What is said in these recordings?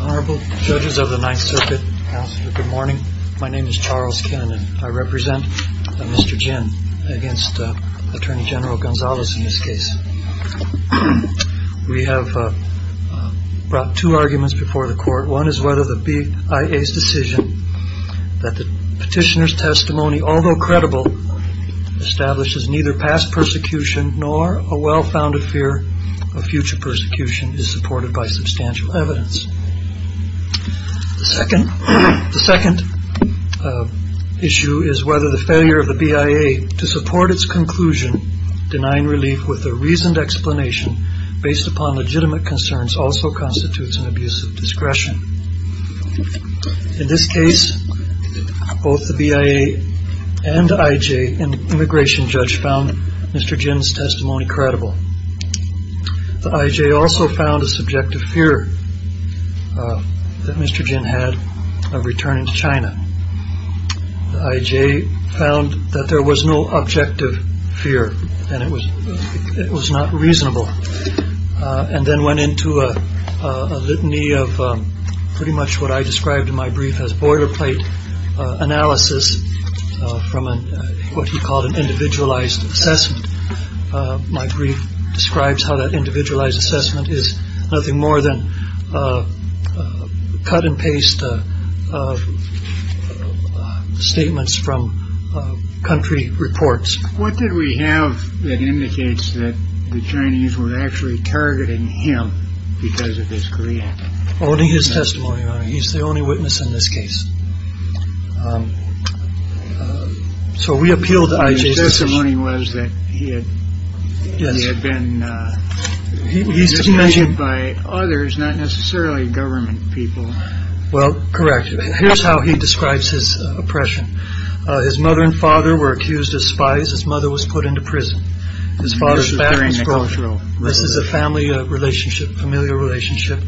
Honorable Judges of the Ninth Circuit, Counselors, good morning. My name is Charles Kinn. I represent Mr. Ginn against Attorney General Gonzales in this case. We have brought two arguments before the court. One is whether the BIA's decision that the petitioner's testimony, although credible, establishes neither past persecution nor a well-founded fear of future persecution is supported by substantial evidence. The second issue is whether the failure of the BIA to support its conclusion, denying relief with a reasoned explanation based upon and IJ, an immigration judge, found Mr. Ginn's testimony credible. The IJ also found a subjective fear that Mr. Ginn had of returning to China. The IJ found that there was no objective fear and it was not reasonable and then went into a litany of pretty much what I described in my brief as boilerplate analysis from what he called an individualized assessment. My brief describes how that individualized assessment is nothing more than a cut and paste of statements from country reports. What did we have that indicates that the Chinese were actually targeting him because of his creed? Only his testimony. He's the only witness in this case. So we appealed to IJ's testimony. His testimony was that he had been manipulated by others, not necessarily government people. Well, correct. Here's how he describes his oppression. His mother and father were accused of spies. His mother was put into prison. His father was hearing the cultural. This is a family relationship, familial relationship.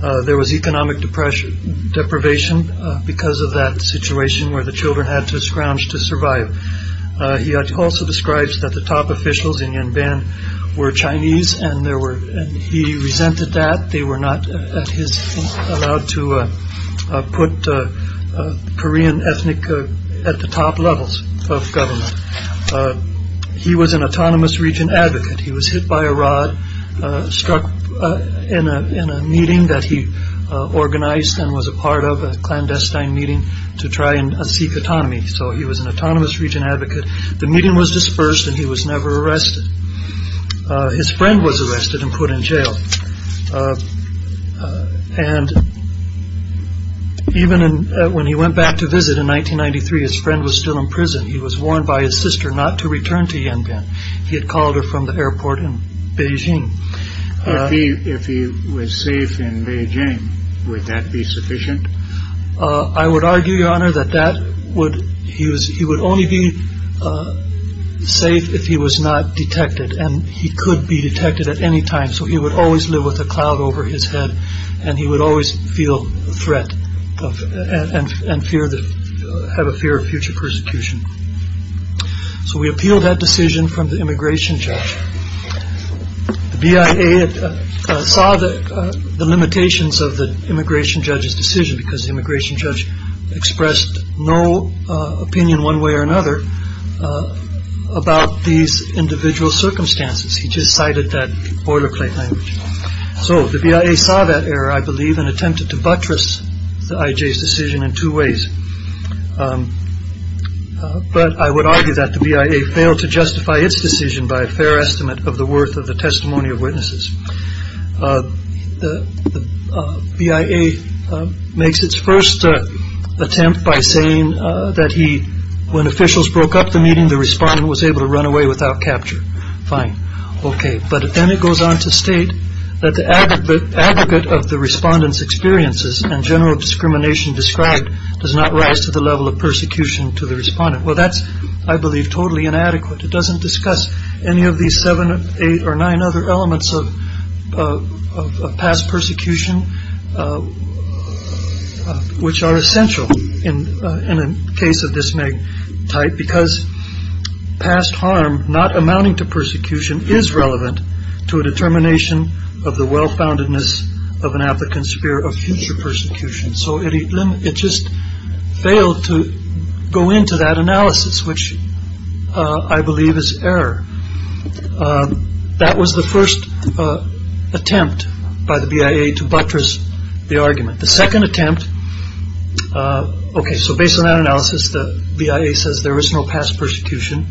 There was economic depression, deprivation because of that situation where the children had to scrounge to survive. He also describes that the top officials in Yanban were Chinese and there were and he resented that. They were not allowed to put Korean ethnic at the top levels of government. But he was an autonomous region advocate. He was hit by a rod struck in a meeting that he organized and was a part of a clandestine meeting to try and seek autonomy. So he was an autonomous region advocate. The meeting was dispersed and he was never arrested. His friend was arrested and put in jail. And even when he went back to visit in 1993, his friend was still in prison. He was warned by his sister not to return to Yanban. He had called her from the airport in Beijing. If he was safe in Beijing, would that be sufficient? I would argue, Your Honor, that that would he was he would only be safe if he was not detected and he could be detected at any time. So he would always live with a cloud over his head and he would always feel the threat and fear that have a fear of future persecution. So we appealed that decision from the immigration judge. The BIA saw the limitations of the immigration judge's decision, because the immigration judge expressed no opinion one way or another about these individual circumstances. He just cited that boilerplate. So the BIA saw that error, I believe, and attempted to buttress the IJ's decision in two ways. But I would argue that the BIA failed to justify its decision by a fair estimate of the worth of the testimony of witnesses. The BIA makes its first attempt by saying that he when officials broke up the meeting, the respondent was able to run away without capture. Fine. OK. But then it goes on to state that the advocate of the respondents experiences and general discrimination described does not rise to the level of persecution to the respondent. Well, that's, I believe, totally inadequate. It doesn't discuss any of these seven, eight or nine other elements of past persecution, which are essential in a case of this type, because past harm not amounting to persecution is relevant to a determination of the well-foundedness of an applicant's fear of future persecution. So it just failed to go into that analysis, which I believe is error. That was the first attempt by the BIA to buttress the argument. The second attempt. OK. So based on that analysis, the BIA says there is no past persecution.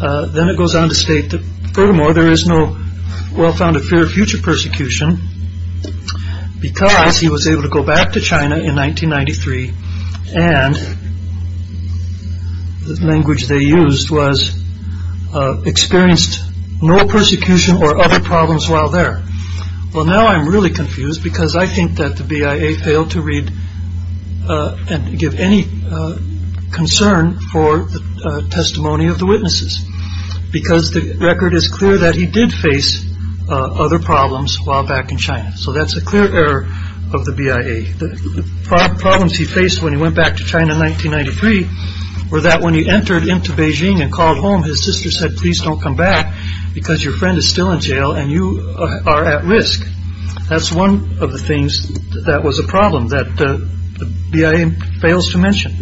Then it goes on to state that furthermore, there is no well-founded fear of future persecution because he was able to go back to China in 1993. And the language they used was experienced no persecution or other problems while there. Well, now I'm really confused because I think that the BIA failed to read and give any concern for the testimony of the witnesses, because the record is clear that he did face other problems while back in China. So that's a clear error of the BIA. Problems he faced when he went back to China in 1993 were that when he entered into Beijing and called home, his sister said, please don't come back because your friend is still in jail and you are at risk. That's one of the things that was a problem that the BIA fails to mention.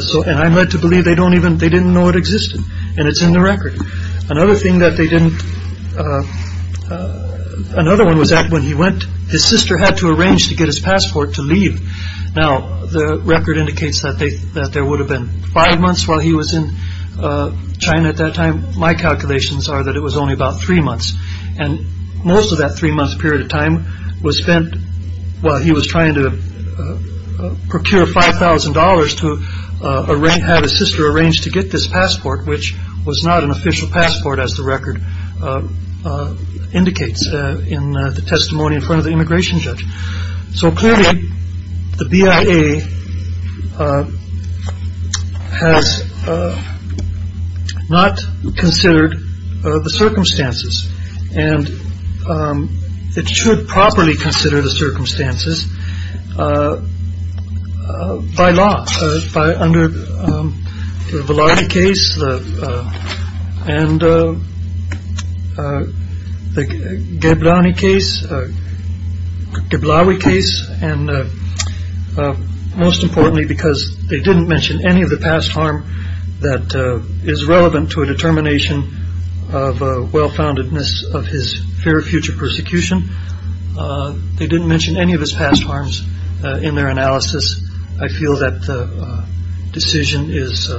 So and I'm led to believe they don't even they didn't know it existed. And it's in the record. Another thing that they didn't. Another one was that when he went, his sister had to arrange to get his passport to leave. Now, the record indicates that they that there would have been five months while he was in China at that time. My calculations are that it was only about three months. And most of that three month period of time was spent while he was trying to procure $5,000 to arrange. Had his sister arranged to get this passport, which was not an official passport, as the record indicates in the testimony in front of the immigration judge. So clearly the BIA has not considered the circumstances. And it should properly consider the circumstances by law by under the case. And the Gabbani case, the Blower case. And most importantly, because they didn't mention any of the past harm that is relevant to a determination of well-foundedness of his fear of future persecution. They didn't mention any of his past harms in their analysis. I feel that the decision is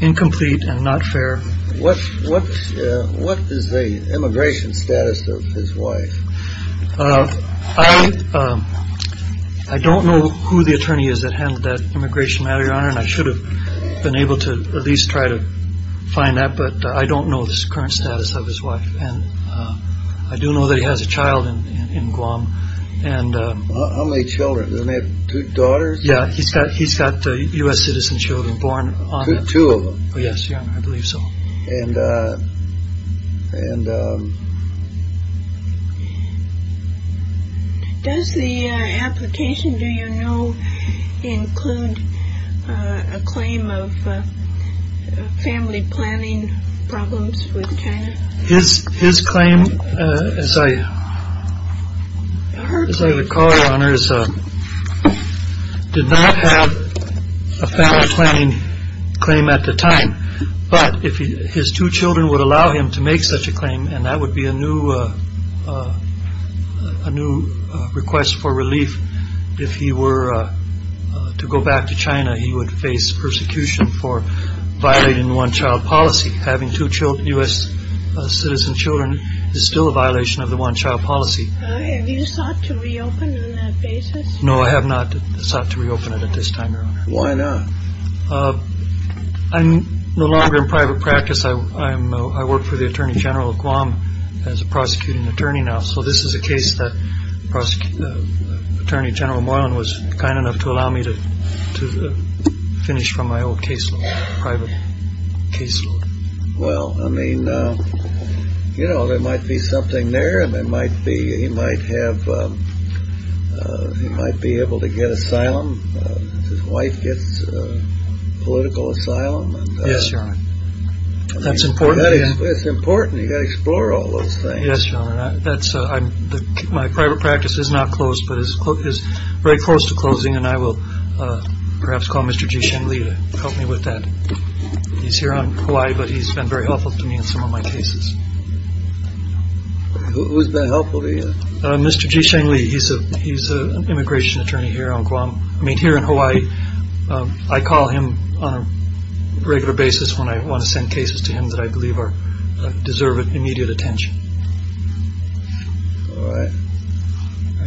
incomplete and not fair. What's what's what is the immigration status of his wife? I don't know who the attorney is that handled that immigration matter, your honor, and I should have been able to at least try to find that. But I don't know the current status of his wife. And I do know that he has a child in Guam. And how many children do they have? Two daughters. Yeah. He's got he's got the U.S. citizen children born on two of them. Yes. Yeah, I believe so. And and. Does the application do you know include a claim of family planning problems with China? His his claim, as I heard, as I recall, honors did not have a family planning claim at the time. But if his two children would allow him to make such a claim and that would be a new a new request for relief. If he were to go back to China, he would face persecution for violating one child policy. Having two children, U.S. citizen children is still a violation of the one child policy. Have you sought to reopen that basis? No, I have not sought to reopen it at this time. Why not? I'm no longer in private practice. I am. I work for the attorney general of Guam as a prosecuting attorney now. So this is a case that Attorney General Moreland was kind enough to allow me to to finish from my own case. Private case. Well, I mean, you know, there might be something there and there might be. He might have. He might be able to get asylum. Wife gets political asylum. Yes. That's important. It's important to explore all those things. Yes. That's my private practice is not closed, but it's very close to closing. And I will perhaps call Mr. Jishin Lee to help me with that. He's here on Hawaii, but he's been very helpful to me in some of my cases. Who's been helpful to you? Mr. Jishin Lee. He's a he's an immigration attorney here on Guam. I mean, here in Hawaii, I call him on a regular basis when I want to send cases to him that I believe are deserve immediate attention.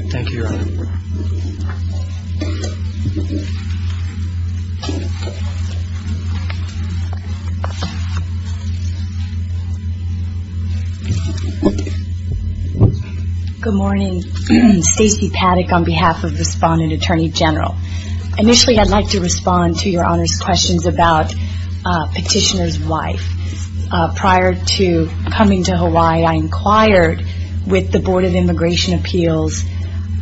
Thank you. Good morning. Stacey Paddock on behalf of respondent attorney general. Initially, I'd like to respond to your honor's questions about petitioner's wife. Prior to coming to Hawaii, I inquired with the Board of Immigration Appeals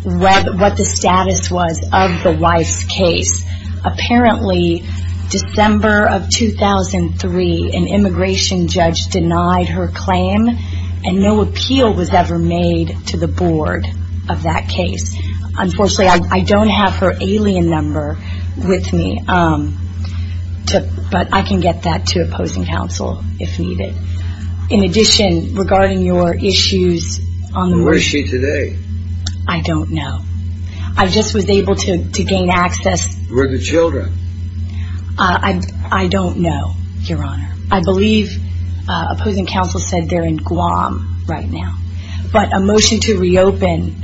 what the status was of the wife's case. Apparently, December of 2003, an immigration judge denied her claim and no appeal was ever made to the board of that case. Unfortunately, I don't have her alien number with me, but I can get that to opposing counsel if needed. In addition, regarding your issues on the. Where is she today? I don't know. I just was able to gain access with the children. I don't know, your honor. I believe opposing counsel said they're in Guam right now, but a motion to reopen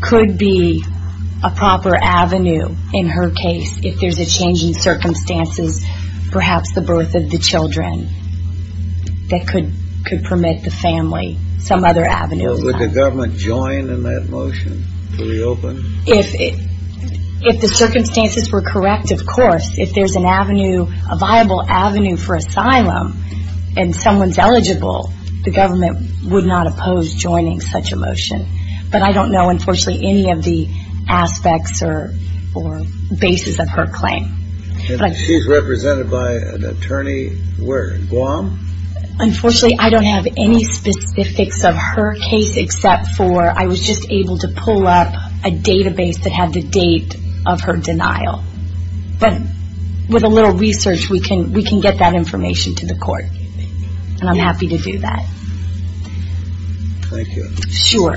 could be a proper avenue in her case. If there's a change in circumstances, perhaps the birth of the children that could could permit the family some other avenues. Would the government join in that motion to reopen if if the circumstances were correct? Of course, if there's an avenue, a viable avenue for asylum and someone's eligible, the government would not oppose joining such a motion. But I don't know, unfortunately, any of the aspects or or basis of her claim. She's represented by an attorney where Guam. Unfortunately, I don't have any specifics of her case except for I was just able to pull up a database that had the date of her denial. But with a little research, we can we can get that information to the court. And I'm happy to do that. Thank you. Sure.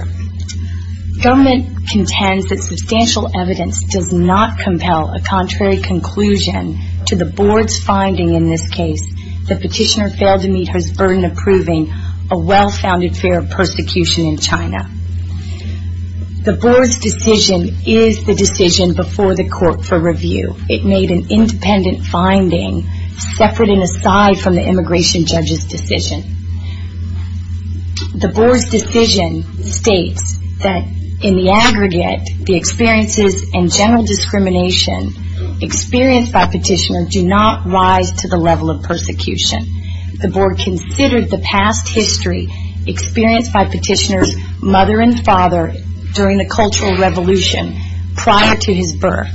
Government contends that substantial evidence does not compel a contrary conclusion to the board's finding in this case. The petitioner failed to meet her burden of proving a well-founded fear of persecution in China. The board's decision is the decision before the court for review. It made an independent finding separate and aside from the immigration judge's decision. The board's decision states that in the aggregate, the experiences and general discrimination experienced by petitioner do not rise to the level of persecution. The board considered the past history experienced by petitioner's mother and father during the cultural revolution prior to his birth.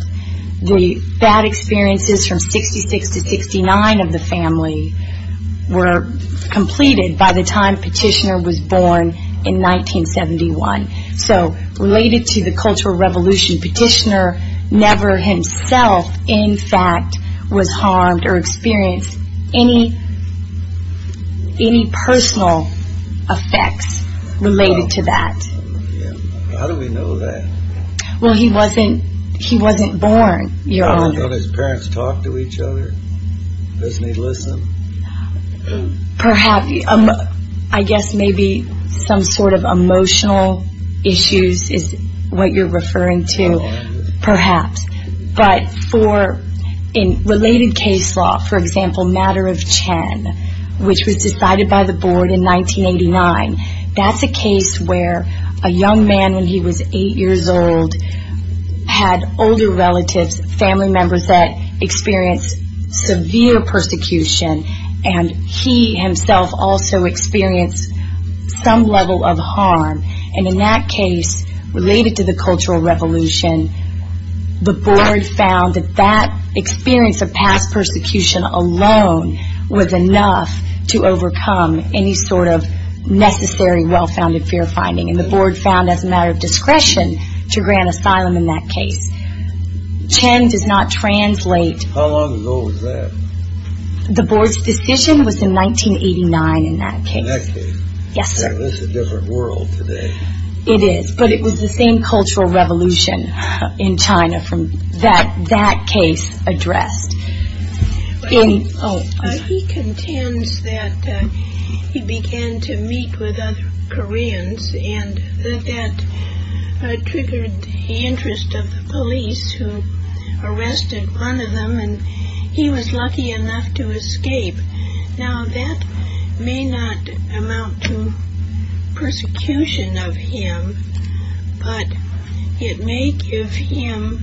The bad experiences from 66 to 69 of the family were completed by the time petitioner was born in 1971. So related to the cultural revolution, petitioner never himself, in fact, was harmed or experienced any any personal effects related to that. How do we know that? Well, he wasn't he wasn't born. You know, his parents talked to each other. Doesn't he listen? Perhaps. I guess maybe some sort of emotional issues is what you're referring to, perhaps. But for in related case law, for example, matter of Chen, which was decided by the board in 1989. That's a case where a young man when he was eight years old had older relatives, family members that experienced severe persecution. And he himself also experienced some level of harm. And in that case related to the cultural revolution, the board found that that experience of past persecution alone was enough to overcome any sort of necessary well-founded fear finding. And the board found as a matter of discretion to grant asylum in that case. Chen does not translate. How long ago was that? The board's decision was in 1989 in that case. Yes. It's a different world today. It is. But it was the same cultural revolution in China from that that case addressed in. Oh, he contends that he began to meet with other Koreans and that triggered the interest of the police who arrested one of them. And he was lucky enough to escape. Now, that may not amount to persecution of him, but it may give him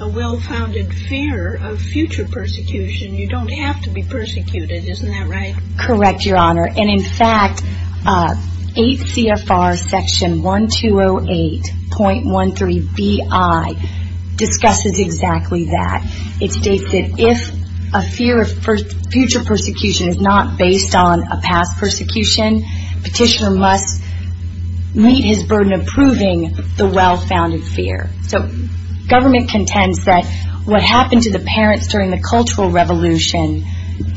a well-founded fear of future persecution. You don't have to be persecuted. Isn't that right? Correct, Your Honor. And in fact, 8 CFR Section 1208.13bi discusses exactly that. It states that if a fear of future persecution is not based on a past persecution, petitioner must meet his burden of proving the well-founded fear. So government contends that what happened to the parents during the cultural revolution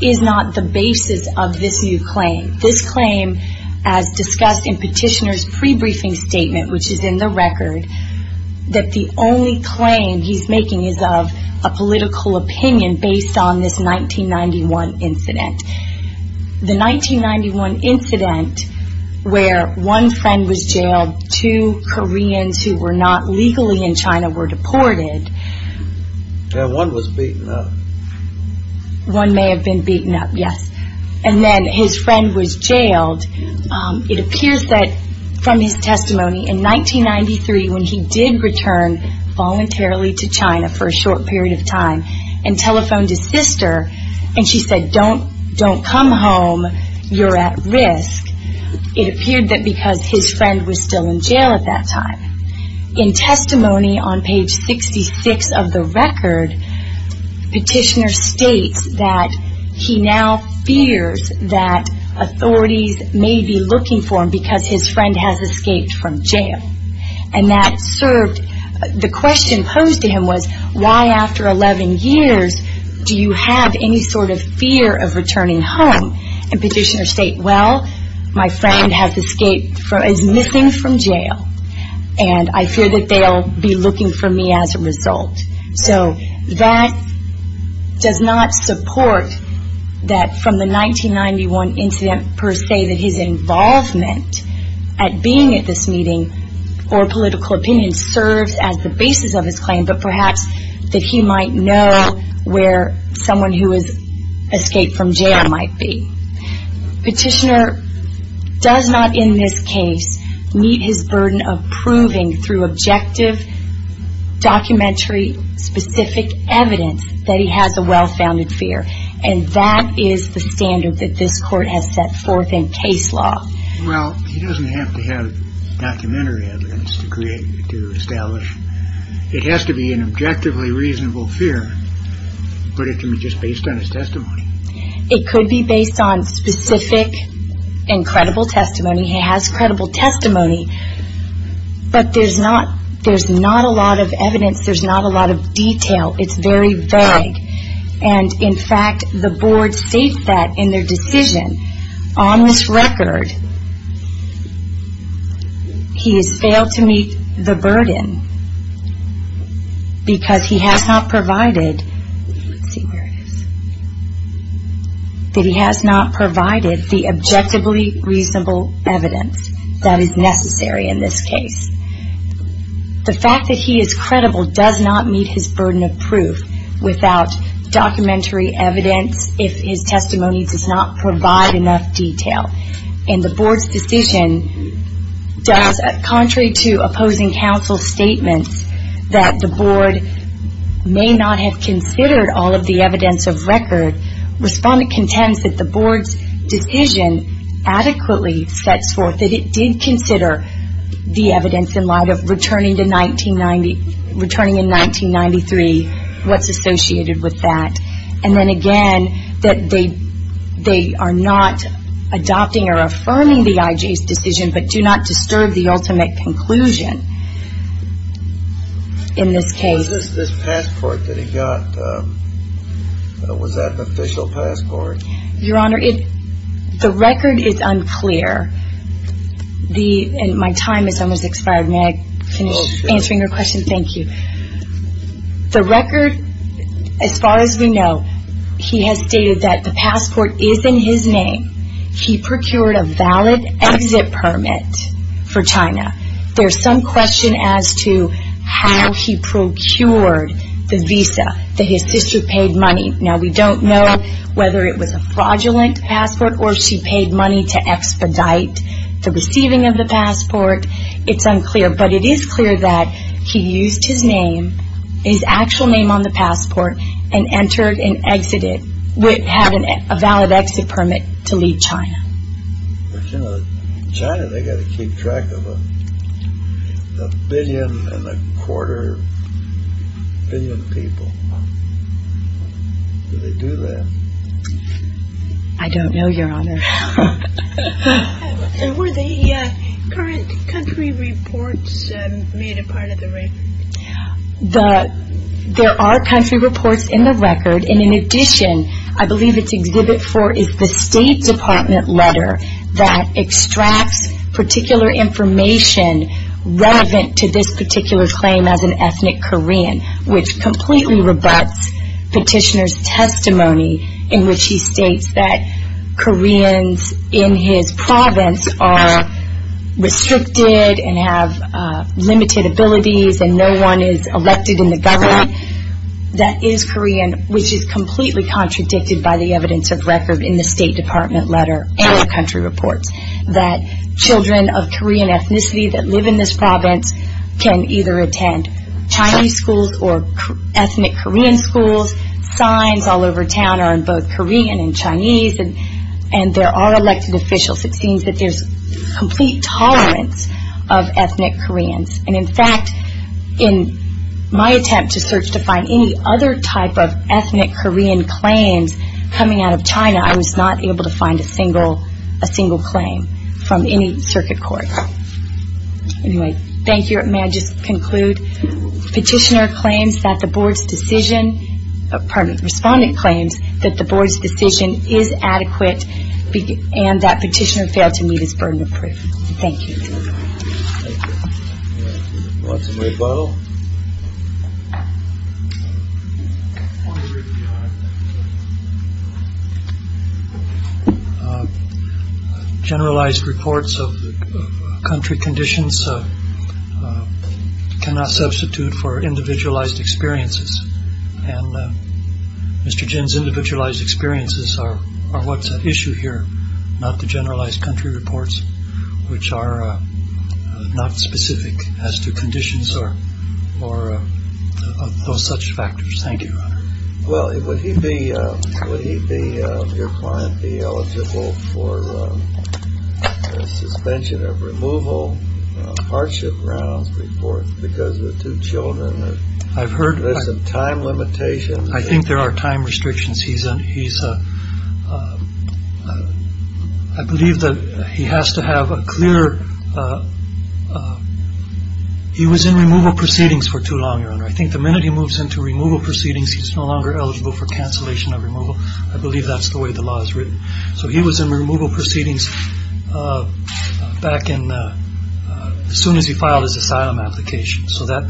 is not the basis of this new claim. This claim, as discussed in petitioner's pre-briefing statement, which is in the record, that the only claim he's making is of a political opinion based on this 1991 incident. The 1991 incident where one friend was jailed, two Koreans who were not legally in China were deported. And one was beaten up. One may have been beaten up. Yes. And then his friend was jailed. It appears that from his testimony in 1993 when he did return voluntarily to China for a short period of time and telephoned his sister and she said, don't come home, you're at risk. It appeared that because his friend was still in jail at that time. In testimony on page 66 of the record, petitioner states that he now fears that authorities may be looking for him because his friend has escaped from jail. And that served, the question posed to him was, why after 11 years do you have any sort of fear of returning home? And petitioner state, well, my friend has escaped, is missing from jail. And I fear that they'll be looking for me as a result. So that does not support that from the 1991 incident per se, that his involvement at being at this meeting or political opinion serves as the basis of his claim, but perhaps that he might know where someone who has escaped from jail might be. Petitioner does not in this case meet his burden of proving through objective documentary specific evidence that he has a well-founded fear and that is the standard that this court has set forth in case law. Well, he doesn't have to have documentary evidence to create, to establish. It has to be an objectively reasonable fear, but it can be just based on his testimony. It could be based on specific and credible testimony. He has credible testimony, but there's not, there's not a lot of evidence. There's not a lot of detail. It's very vague. And in fact, the board states that in their decision. On this record, he has failed to meet the burden, because he has not provided, let's see where it is, that he has not provided the objectively reasonable evidence that is necessary in this case. The fact that he is credible does not meet his burden of proof without documentary evidence if his testimony does not provide enough detail. And the board's decision does, contrary to opposing counsel statements, that the board may not have considered all of the evidence of record, respondent contends that the board's decision adequately sets forth that it did consider the evidence in light of returning to 1990, returning in 1993, what's associated with that. And then again, that they, they are not adopting or affirming the IJ's decision, but do not disturb the ultimate conclusion in this case. Was this passport that he got, was that an official passport? Your Honor, it, the record is unclear. The, and my time is almost expired. May I finish answering your question? Thank you. The record, as far as we know, he has stated that the passport is in his name. He procured a valid exit permit for China. There's some question as to how he procured the visa that his sister paid money. Now we don't know whether it was a fraudulent passport or she paid money to expedite the receiving of the passport. It's unclear, but it is clear that he used his name, his actual name on the passport, and entered and exited, would have a valid exit permit to leave China. But you know, China, they got to keep track of a billion and a quarter billion people. Do they do that? I don't know, Your Honor. Were the current country reports made a part of the record? The, there are country reports in the record, and in addition, I believe it's exhibit for is the State Department letter that extracts particular information relevant to this particular claim as an ethnic Korean, which completely rebuts petitioner's testimony in which he states that Koreans in his province are restricted and have limited abilities and no one is elected in the government that is Korean, which is completely contradicted by the evidence of record in the State Department letter and the country reports that children of Korean ethnicity that live in this province can either attend Chinese schools or ethnic Korean schools, signs all over town are in both Korean and Chinese, and there are elected officials. It seems that there's complete tolerance of ethnic Koreans. And in fact, in my attempt to search to find any other type of ethnic Korean claims coming out of China, I was not able to find a single, a single claim from any circuit court. Anyway, thank you. May I just conclude? Petitioner claims that the board's decision, pardon me, respondent claims that the board's decision is adequate and that petitioner failed to meet his burden of proof. Thank you. Generalized reports of country conditions cannot substitute for individualized experiences. And Mr. Jin's individualized experiences are what's at issue here, not the generalized country reports, which are not specific as to conditions or those such factors. Thank you. Well, would he be, would he be, your client be eligible for suspension of removal of hardship grounds report because of two children? I've heard. There's some time limitations. I think there are time restrictions. He's a, he's a, I believe that he has to have a clear. He was in removal proceedings for too long. I think the minute he moves into removal proceedings, he's no longer eligible for cancellation of removal. I believe that's the way the law is written. So he was in removal proceedings back in as soon as he filed his asylum application. So that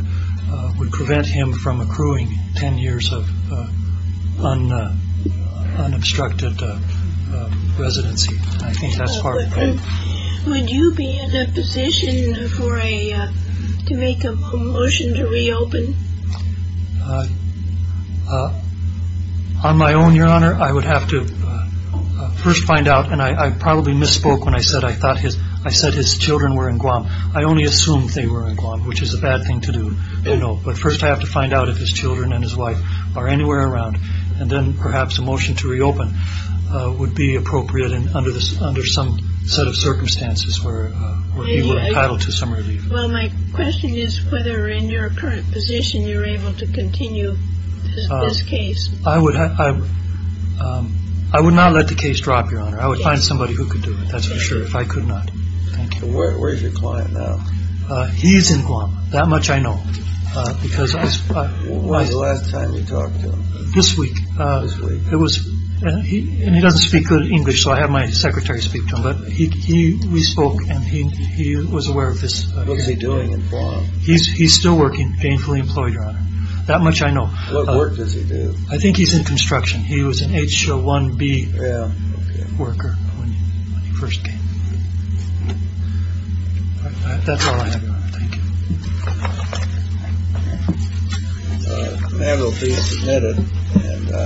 would prevent him from accruing 10 years of unobstructed residency. I think that's part of it. Would you be in a position for a, to make a motion to reopen? On my own, your honor, I would have to first find out. And I probably misspoke when I said I thought his, I said his children were in Guam. I only assumed they were in Guam, which is a bad thing to do, you know. But first I have to find out if his children and his wife are anywhere around. And then perhaps a motion to reopen would be appropriate under some set of circumstances where he were entitled to some relief. Well, my question is whether in your current position, you're able to continue this case. I would, I would not let the case drop, your honor. I would find somebody who could do it. That's for sure. If I could not, thank you. Where's your client now? He's in Guam. That much I know. Because I was, I was, when was the last time you talked to him? This week. This week. It was, and he doesn't speak good English, so I had my secretary speak to him. But he, he, we spoke and he, he was aware of this. What's he doing in Guam? He's, he's still working, gainfully employed, your honor. That much I know. What work does he do? I think he's in construction. He was an H1B worker when he first came. That's all I know. Thank you. The man will be admitted.